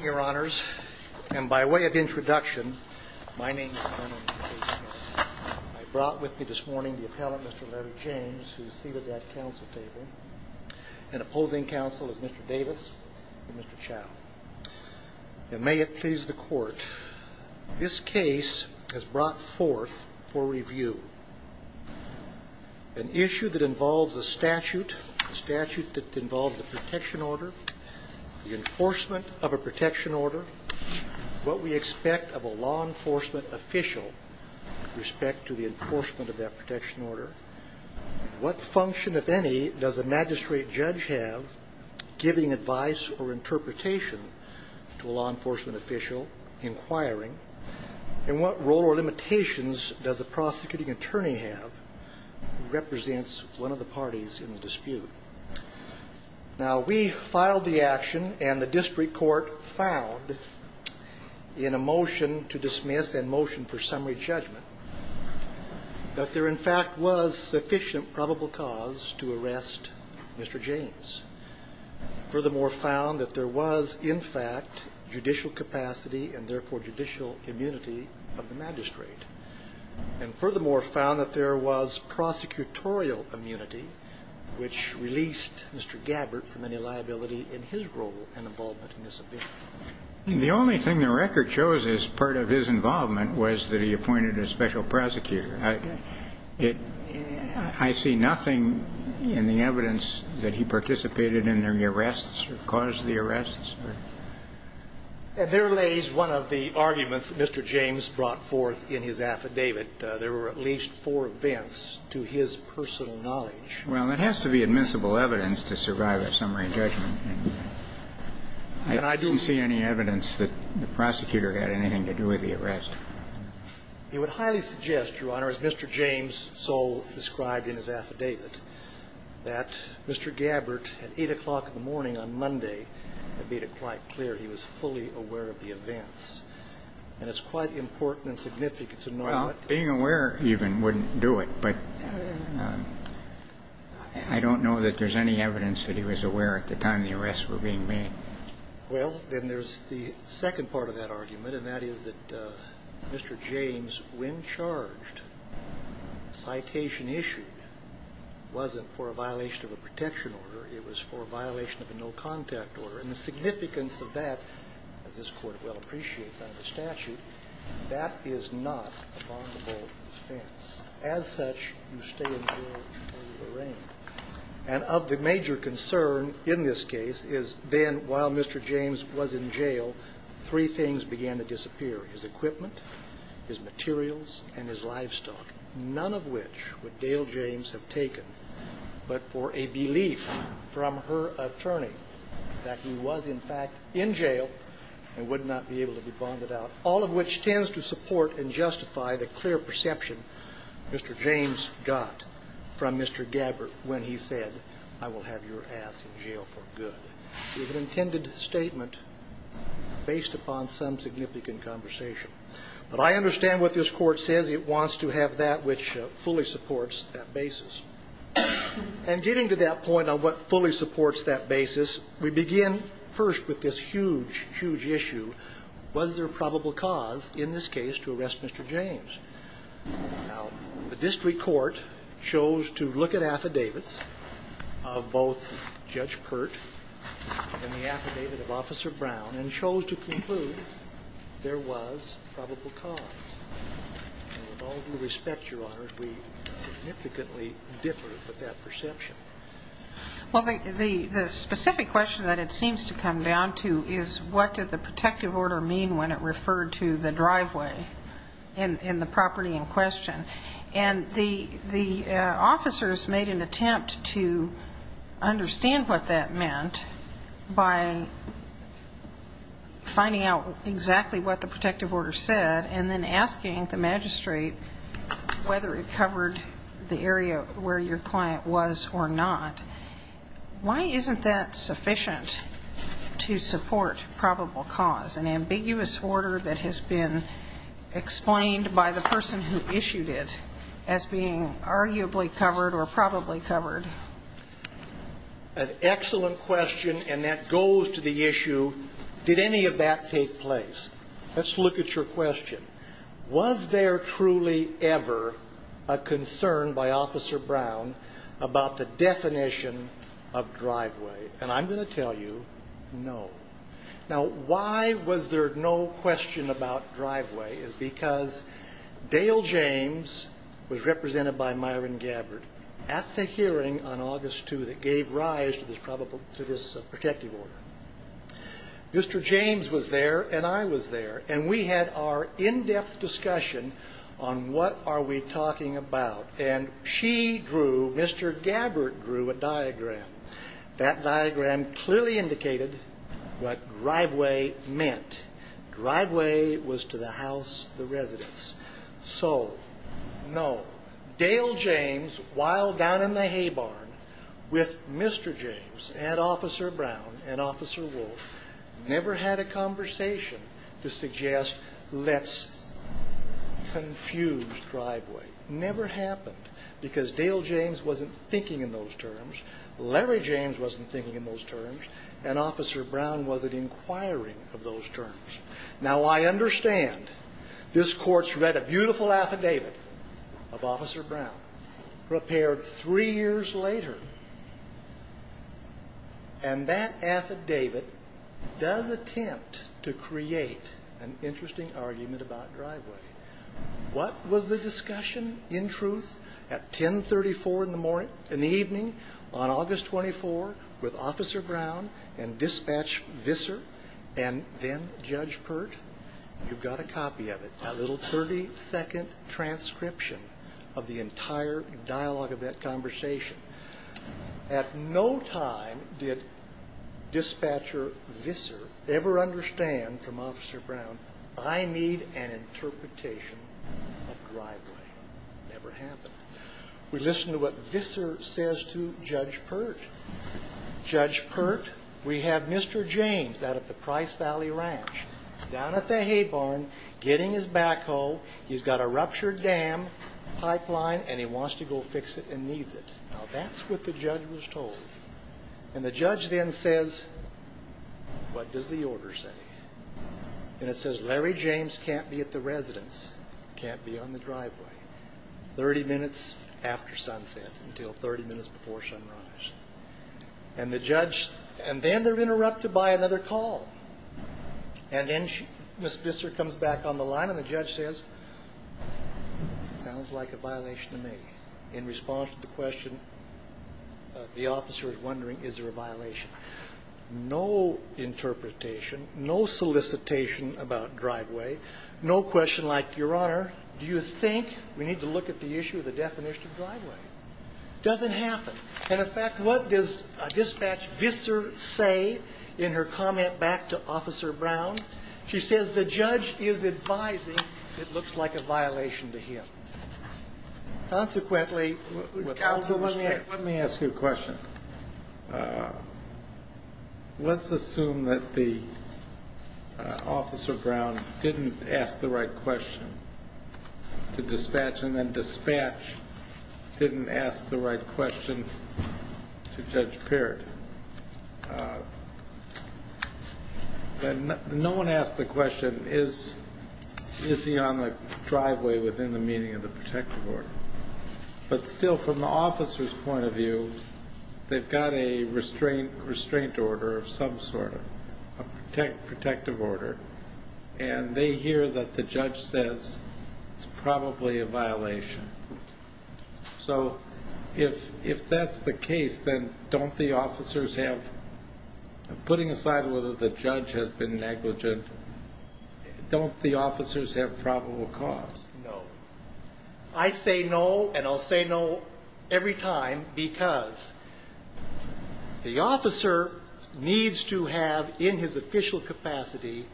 Your Honors, and by way of introduction, I brought with me this morning the appellant, Mr. Larry James, who is seated at that council table, and opposing counsel is Mr. Davis and Mr. Chow. And may it please the court, this case has brought forth for review an issue that involves a statute, a statute that violates the protection order, what we expect of a law enforcement official with respect to the enforcement of that protection order, what function, if any, does the magistrate judge have giving advice or interpretation to a law enforcement official inquiring, and what role or limitations does the prosecuting attorney have, who represents one of the parties in the dispute. Now, we filed the action, and the district court found in a motion to dismiss and motion for summary judgment, that there in fact was sufficient probable cause to arrest Mr. James, furthermore found that there was in fact judicial capacity and therefore judicial immunity of the magistrate, and furthermore found that there was in his role and involvement in this event. The only thing the record shows as part of his involvement was that he appointed a special prosecutor. I see nothing in the evidence that he participated in the arrests or caused the arrests. And there lays one of the arguments Mr. James brought forth in his affidavit. There were at least four events to his personal knowledge. Well, it has to be admissible evidence to survive a summary judgment. And I didn't see any evidence that the prosecutor had anything to do with the arrest. He would highly suggest, Your Honor, as Mr. James so described in his affidavit, that Mr. Gabbard at 8 o'clock in the morning on Monday had made it quite clear he was fully aware of the events. And it's quite important and significant to know that. Well, being aware even wouldn't do it. But I don't know that there's any evidence that he was aware at the time the arrests were being made. Well, then there's the second part of that argument. And that is that Mr. James, when charged, citation issued wasn't for a violation of a protection order. It was for a violation of a no-contact order. And the significance of that, as this Court well appreciates under statute, that is not a bondable offense. As such, you stay in jail until you're arraigned. And of the major concern in this case is then while Mr. James was in jail, three things began to disappear, his equipment, his materials, and his livestock, none of which would Dale James have taken but for a belief from her attorney that he was, in fact, in jail and would not be able to be bonded out, all of which tends to support and justify the clear perception Mr. James got from Mr. Gabbert when he said, I will have your ass in jail for good. It was an intended statement based upon some significant conversation. But I understand what this Court says. It wants to have that which fully supports that basis. And getting to that point on what fully supports that basis, we begin first with this huge, huge issue. Was there probable cause in this case to arrest Mr. James? Now, the district court chose to look at affidavits of both Judge Pert and the affidavit of Officer Brown and chose to conclude there was probable cause. And with all due respect, Your Honor, we significantly differ with that perception. Well, the specific question that it seems to come down to is what did the protective order mean when it referred to the driveway in the property in question? And the officers made an attempt to understand what that meant by finding out exactly what the protective order said and then asking the magistrate whether it covered the area where your client was or not. Why isn't that sufficient to support probable cause, an ambiguous order that has been explained by the person who issued it as being arguably covered or probably covered? An excellent question, and that goes to the issue, did any of that take place? Let's look at your question. Was there truly ever a concern by Officer Brown about the definition of driveway? And I'm going to tell you no. Now, why was there no question about driveway is because Dale James was represented by Myron Gabbard at the hearing on August 2 that gave rise to this protective order. Mr. James was there and I was there, and we had our in-depth discussion on what are we talking about. And she drew, Mr. Gabbard drew a diagram. That diagram clearly indicated what driveway meant. Driveway was to the house, the residence. So, no. Dale James, while down in the hay barn with Mr. James and Officer Brown and Officer Wolf, never had a conversation to suggest let's confuse driveway. Never happened because Dale James wasn't thinking in those terms, Larry James wasn't thinking in those terms, and Officer Brown wasn't inquiring of those terms. Now, I understand this court's read a beautiful affidavit of Officer Brown prepared three years later, and that affidavit does attempt to create an interesting argument about driveway. What was the discussion in truth at 1034 in the evening on August 24 with Officer Brown and Dispatch Visser and then Judge Pert? You've got a copy of it, a little 30-second transcription of the entire dialogue of that conversation. At no time did Dispatcher Visser ever understand from Officer Brown, I need an interpretation of driveway. Never happened. We listen to what Visser says to Judge Pert. Judge Pert, we have Mr. James out at the Price Valley Ranch, down at the hay barn, getting his backhoe, he's got a ruptured dam pipeline, and he wants to go fix it and needs it. Now, that's what the judge was told. And the judge then says, what does the order say? And it says, Larry James can't be at the residence, can't be on the driveway. 30 minutes after sunset until 30 minutes before sunrise. And the judge, and then they're interrupted by another call. And then Ms. Visser comes back on the line and the judge says, sounds like a violation to me. In response to the question, the officer is wondering, is there a violation? No interpretation, no solicitation about driveway, no question like, Your Honor, do you think, we need to look at the issue of the definition of driveway. Doesn't happen. And, in fact, what does Dispatch Visser say in her comment back to Officer Brown? She says, the judge is advising it looks like a violation to him. Consequently, with all due respect. Let me ask you a question. Let's assume that the Officer Brown didn't ask the right question to Dispatch and then Dispatch didn't ask the right question to Judge Paird. No one asked the question, is he on the driveway within the meaning of the protective order. But still, from the officer's point of view, they've got a restraint order of some sort, a protective order, and they hear that the judge says it's probably a violation. So if that's the case, then don't the officers have, putting aside whether the judge has been negligent, don't the officers have probable cause? No. I say no, and I'll say no every time, because the officer needs to have in his official capacity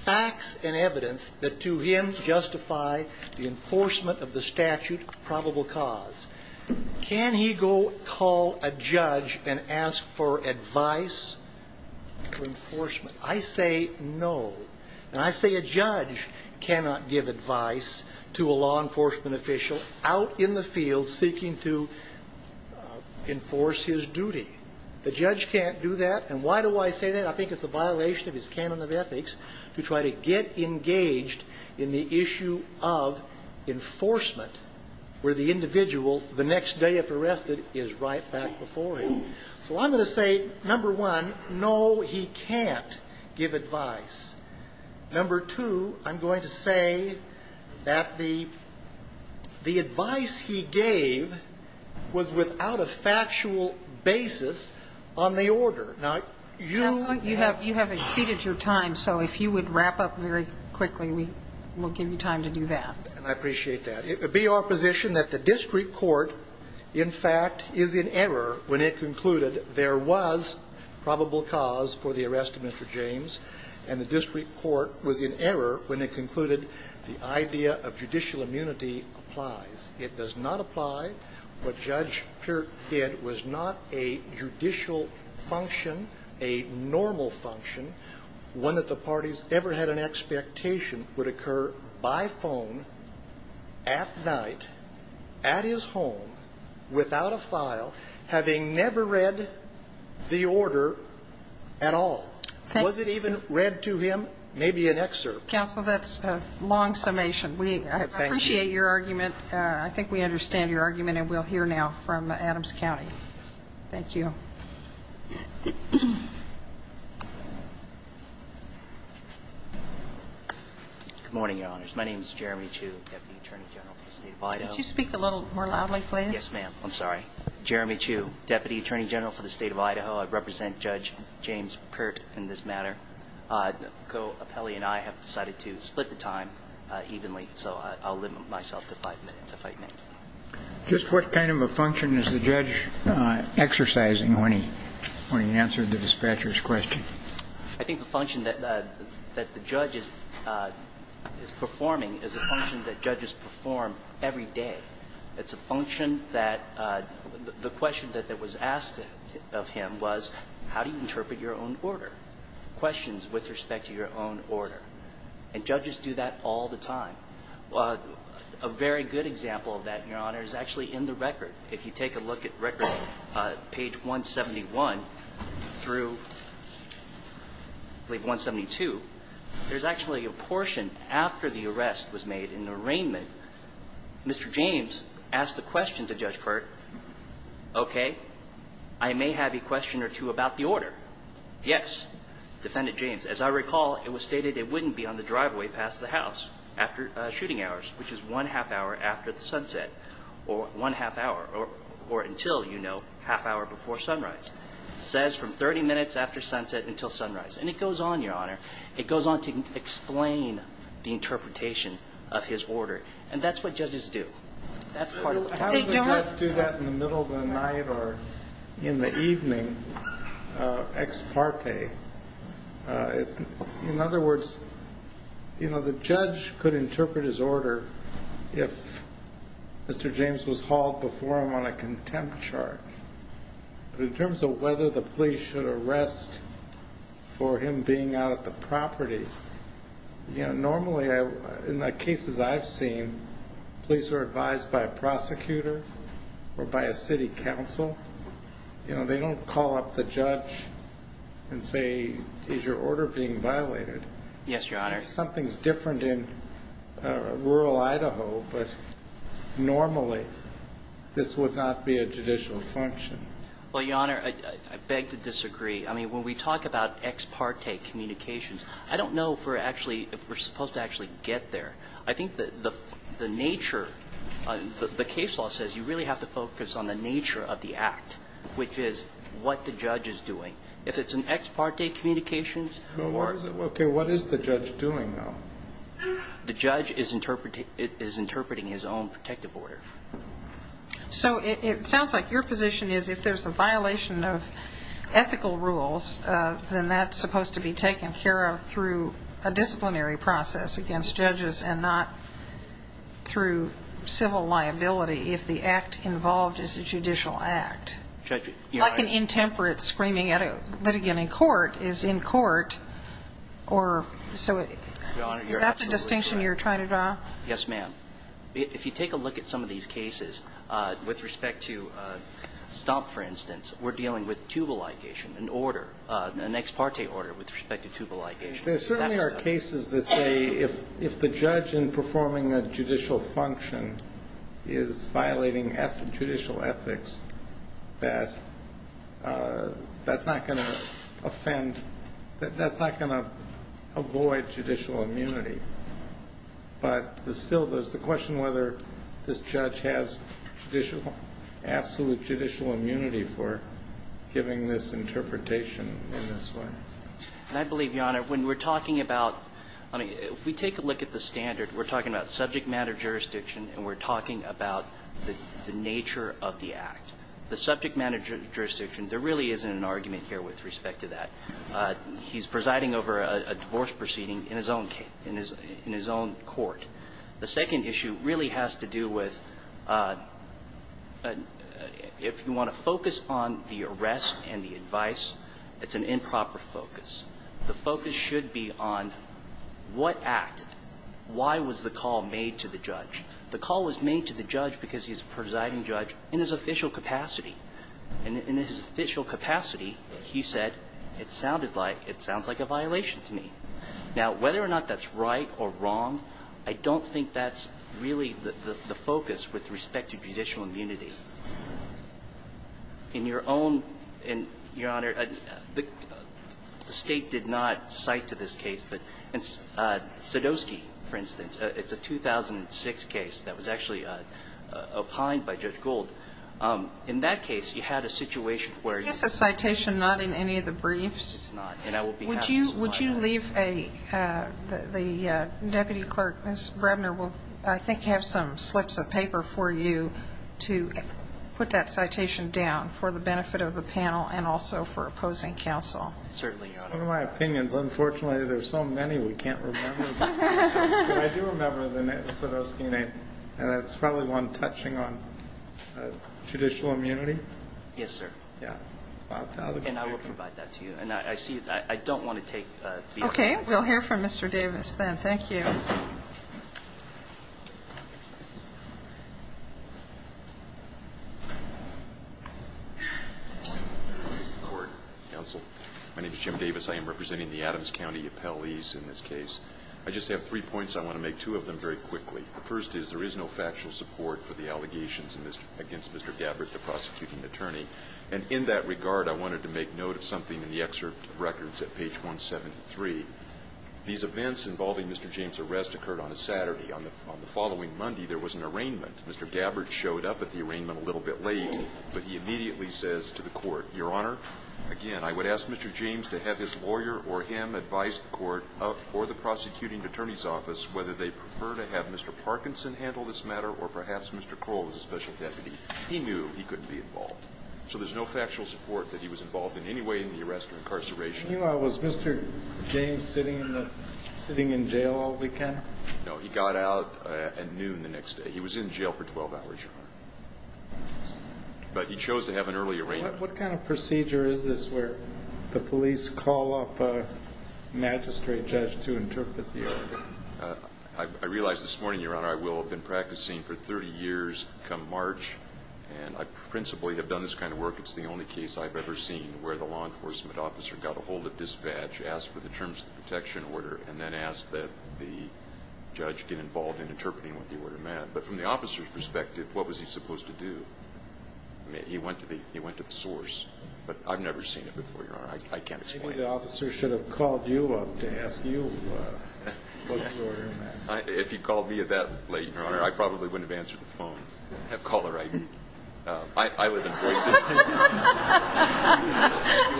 facts and evidence that to him justify the enforcement of the statute of probable cause. Can he go call a judge and ask for advice for enforcement? I say no. And I say a judge cannot give advice to a law enforcement official out in the field seeking to enforce his duty. The judge can't do that. And why do I say that? I think it's a violation of his canon of ethics to try to get engaged in the issue of enforcement where the individual, the next day if arrested, is right back before him. So I'm going to say, number one, no, he can't give advice. Number two, I'm going to say that the advice he gave was without a factual basis on the order. Counsel, you have exceeded your time, so if you would wrap up very quickly, we'll give you time to do that. I appreciate that. It would be our position that the district court, in fact, is in error when it concluded there was probable cause for the arrest of Mr. James, and the district court was in error when it concluded the idea of judicial immunity applies. It does not apply. What Judge Peart did was not a judicial function, a normal function. One that the parties ever had an expectation would occur by phone, at night, at his home, without a file, having never read the order at all. Was it even read to him? Maybe an excerpt. Counsel, that's a long summation. We appreciate your argument. I think we understand your argument, and we'll hear now from Adams County. Thank you. Good morning, Your Honors. My name is Jeremy Chu, Deputy Attorney General for the State of Idaho. Could you speak a little more loudly, please? Yes, ma'am. I'm sorry. Jeremy Chu, Deputy Attorney General for the State of Idaho. I represent Judge James Peart in this matter. The co-appellee and I have decided to split the time evenly, so I'll limit myself to five minutes if I can. Just what kind of a function is the judge exercising when he answers the dispatcher's question? I think the function that the judge is performing is a function that judges perform every day. It's a function that the question that was asked of him was, how do you interpret your own order, questions with respect to your own order? And judges do that all the time. A very good example of that, Your Honor, is actually in the record. If you take a look at record, page 171 through, I believe 172, there's actually a portion after the arrest was made in the arraignment, Mr. James asked the question to Judge Peart, okay, I may have a question or two about the order. Yes, Defendant James, as I recall, it was stated it wouldn't be on the driveway past the house after shooting hours, which is one half hour after the sunset, or one half hour, or until, you know, half hour before sunrise. It says from 30 minutes after sunset until sunrise. And it goes on, Your Honor. It goes on to explain the interpretation of his order. And that's what judges do. That's part of it. How does a judge do that in the middle of the night or in the evening, ex parte? In other words, you know, the judge could interpret his order if Mr. James was hauled before him on a contempt chart. But in terms of whether the police should arrest for him being out at the property, you know, normally in the cases I've seen, police are advised by a prosecutor or by a city council. You know, they don't call up the judge and say, is your order being violated? Yes, Your Honor. Something's different in rural Idaho, but normally this would not be a judicial function. Well, Your Honor, I beg to disagree. I mean, when we talk about ex parte communications, I don't know if we're supposed to actually get there. I think the nature, the case law says you really have to focus on the nature of the act, which is what the judge is doing. If it's an ex parte communications order. Okay, what is the judge doing, though? The judge is interpreting his own protective order. So it sounds like your position is if there's a violation of ethical rules, then that's supposed to be taken care of through a disciplinary process against judges and not through civil liability if the act involved is a judicial act, like an intemperate screaming at a litigant in court is in court, or so is that the distinction you're trying to draw? Yes, ma'am. If you take a look at some of these cases, with respect to Stomp, for instance, we're dealing with tubal ligation, an order, an ex parte order with respect to tubal ligation. There certainly are cases that say if the judge in performing a judicial function is violating judicial ethics, that that's not going to offend, that's not going to avoid judicial immunity. But still there's the question whether this judge has judicial, absolute judicial immunity for giving this interpretation in this way. And I believe, Your Honor, when we're talking about – I mean, if we take a look at the standard, we're talking about subject matter jurisdiction and we're talking about the nature of the act. The subject matter jurisdiction, there really isn't an argument here with respect to that. He's presiding over a divorce proceeding in his own case, in his own court. The second issue really has to do with if you want to focus on the arrest and the focus, the focus should be on what act, why was the call made to the judge. The call was made to the judge because he's a presiding judge in his official capacity. And in his official capacity, he said, it sounded like, it sounds like a violation to me. Now, whether or not that's right or wrong, I don't think that's really the focus with respect to judicial immunity. In your own – and, Your Honor, the State did not cite to this case. But in Sadowski, for instance, it's a 2006 case that was actually opined by Judge Gould. In that case, you had a situation where you – Is this a citation not in any of the briefs? It's not. And I will be happy to supply it. Would you leave a – the deputy clerk, Ms. Brebner, will I think have some slips of paper for you to put that citation down for the benefit of the panel and also for opposing counsel. Certainly, Your Honor. It's one of my opinions. Unfortunately, there's so many we can't remember. But I do remember the name, the Sadowski name. And that's probably one touching on judicial immunity. Yes, sir. Yeah. And I will provide that to you. And I see – I don't want to take the – Okay. We'll hear from Mr. Davis then. Thank you. Court, counsel. My name is Jim Davis. I am representing the Adams County appellees in this case. I just have three points. I want to make two of them very quickly. The first is there is no factual support for the allegations against Mr. Gabbard, the prosecuting attorney. And in that regard, I wanted to make note of something in the excerpt of records These events involving Mr. James' arrest occurred on a Saturday. On the following Monday, there was an arraignment. Mr. Gabbard showed up at the arraignment a little bit late, but he immediately says to the court, Your Honor, again, I would ask Mr. James to have his lawyer or him advise the court or the prosecuting attorney's office whether they prefer to have Mr. Parkinson handle this matter or perhaps Mr. Kroll as a special deputy. He knew he couldn't be involved. So there's no factual support that he was involved in any way in the arrest or incarceration. Meanwhile, was Mr. James sitting in jail all weekend? No, he got out at noon the next day. He was in jail for 12 hours, Your Honor. But he chose to have an early arraignment. What kind of procedure is this where the police call up a magistrate judge to interpret the arraignment? I realize this morning, Your Honor, I will have been practicing for 30 years come March, and I principally have done this kind of work. It's the only case I've ever seen where the law enforcement officer got a hold of dispatch, asked for the terms of protection order, and then asked that the judge get involved in interpreting what the order meant. But from the officer's perspective, what was he supposed to do? He went to the source. But I've never seen it before, Your Honor. I can't explain it. Maybe the officer should have called you up to ask you what the order meant. If he called me that late, Your Honor, I probably wouldn't have answered the phone. I have cholera. I live in Boise. You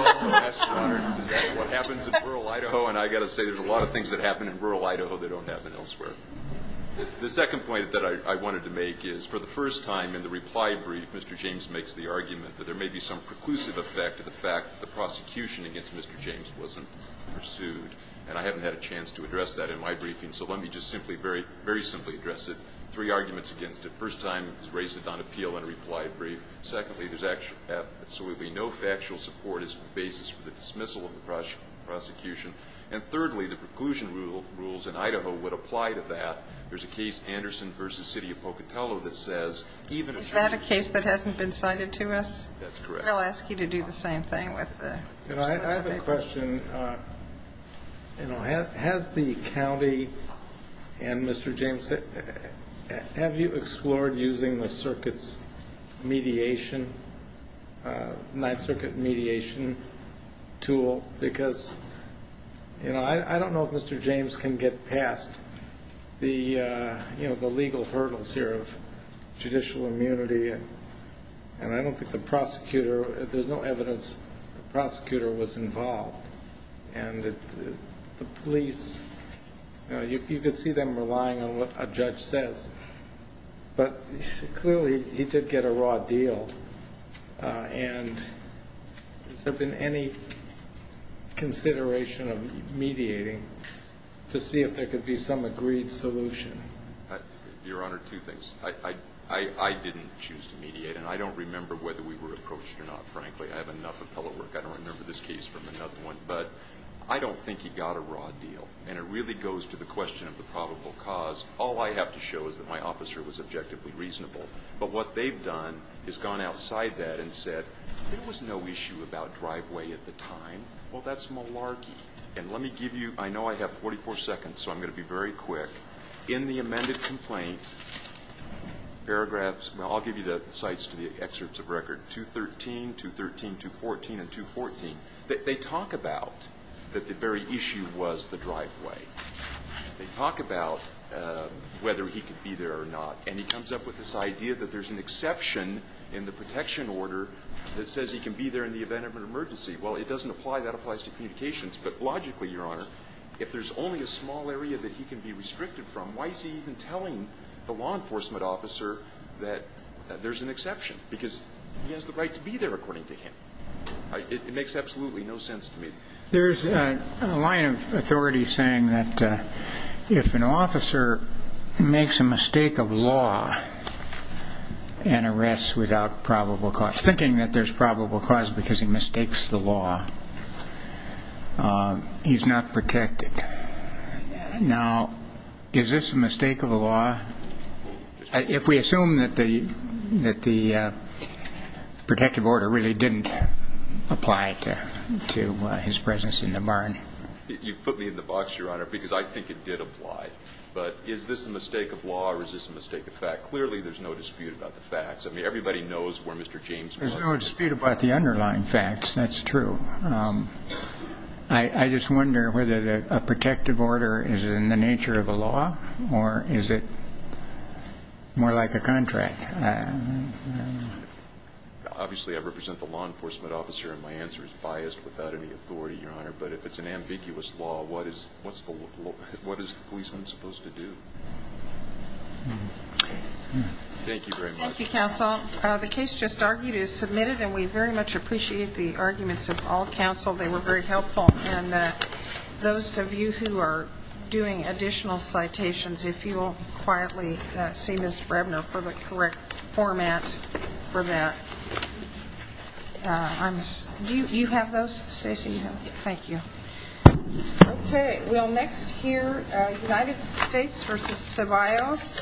also asked, Your Honor, is that what happens in rural Idaho? And I've got to say there's a lot of things that happen in rural Idaho that don't happen elsewhere. The second point that I wanted to make is, for the first time in the reply brief, Mr. James makes the argument that there may be some preclusive effect of the fact that the prosecution against Mr. James wasn't pursued. And I haven't had a chance to address that in my briefing, so let me just simply very simply address it. Three arguments against it. First time, he's raised it on appeal in a reply brief. Secondly, there's absolutely no factual support as the basis for the dismissal of the prosecution. And thirdly, the preclusion rules in Idaho would apply to that. There's a case, Anderson v. City of Pocatello, that says even if you're going to Is that a case that hasn't been cited to us? That's correct. I'll ask you to do the same thing with the response to that. I have a question. Has the county and Mr. James, have you explored using the circuit's mediation, Ninth Circuit mediation tool? Because I don't know if Mr. James can get past the legal hurdles here of judicial immunity, and I don't think the prosecutor, there's no evidence the prosecutor was involved, and the police, you could see them relying on what a judge says, but clearly he did get a raw deal. And has there been any consideration of mediating to see if there could be some agreed solution? Your Honor, two things. I didn't choose to mediate, and I don't remember whether we were approached or not, frankly. I have enough appellate work. I don't remember this case from another one. But I don't think he got a raw deal. And it really goes to the question of the probable cause. All I have to show is that my officer was objectively reasonable. But what they've done is gone outside that and said, there was no issue about driveway at the time. Well, that's malarkey. And let me give you, I know I have 44 seconds, so I'm going to be very quick. In the amended complaint, paragraphs, I'll give you the cites to the excerpts of 213, 214, and 214. They talk about that the very issue was the driveway. They talk about whether he could be there or not. And he comes up with this idea that there's an exception in the protection order that says he can be there in the event of an emergency. Well, it doesn't apply. That applies to communications. But logically, Your Honor, if there's only a small area that he can be restricted from, why is he even telling the law enforcement officer that there's an exception? Because he has the right to be there according to him. It makes absolutely no sense to me. There's a line of authority saying that if an officer makes a mistake of law and arrests without probable cause, thinking that there's probable cause because he mistakes the law, he's not protected. Now, is this a mistake of the law? If we assume that the protective order really didn't apply to his presence in the barn. You put me in the box, Your Honor, because I think it did apply. But is this a mistake of law or is this a mistake of fact? Clearly, there's no dispute about the facts. I mean, everybody knows where Mr. James was. There's no dispute about the underlying facts. That's true. I just wonder whether a protective order is in the nature of a law or is it more like a contract? Obviously, I represent the law enforcement officer and my answer is biased without any authority, Your Honor. But if it's an ambiguous law, what is the policeman supposed to do? Thank you very much. Thank you, Counsel. The case just argued is submitted and we very much appreciate the arguments of all counsel. They were very helpful. And those of you who are doing additional citations, if you will quietly see Ms. Brebner for the correct format for that. Do you have those, Stacey? Thank you. Okay. We'll next hear United States v. Ceballos.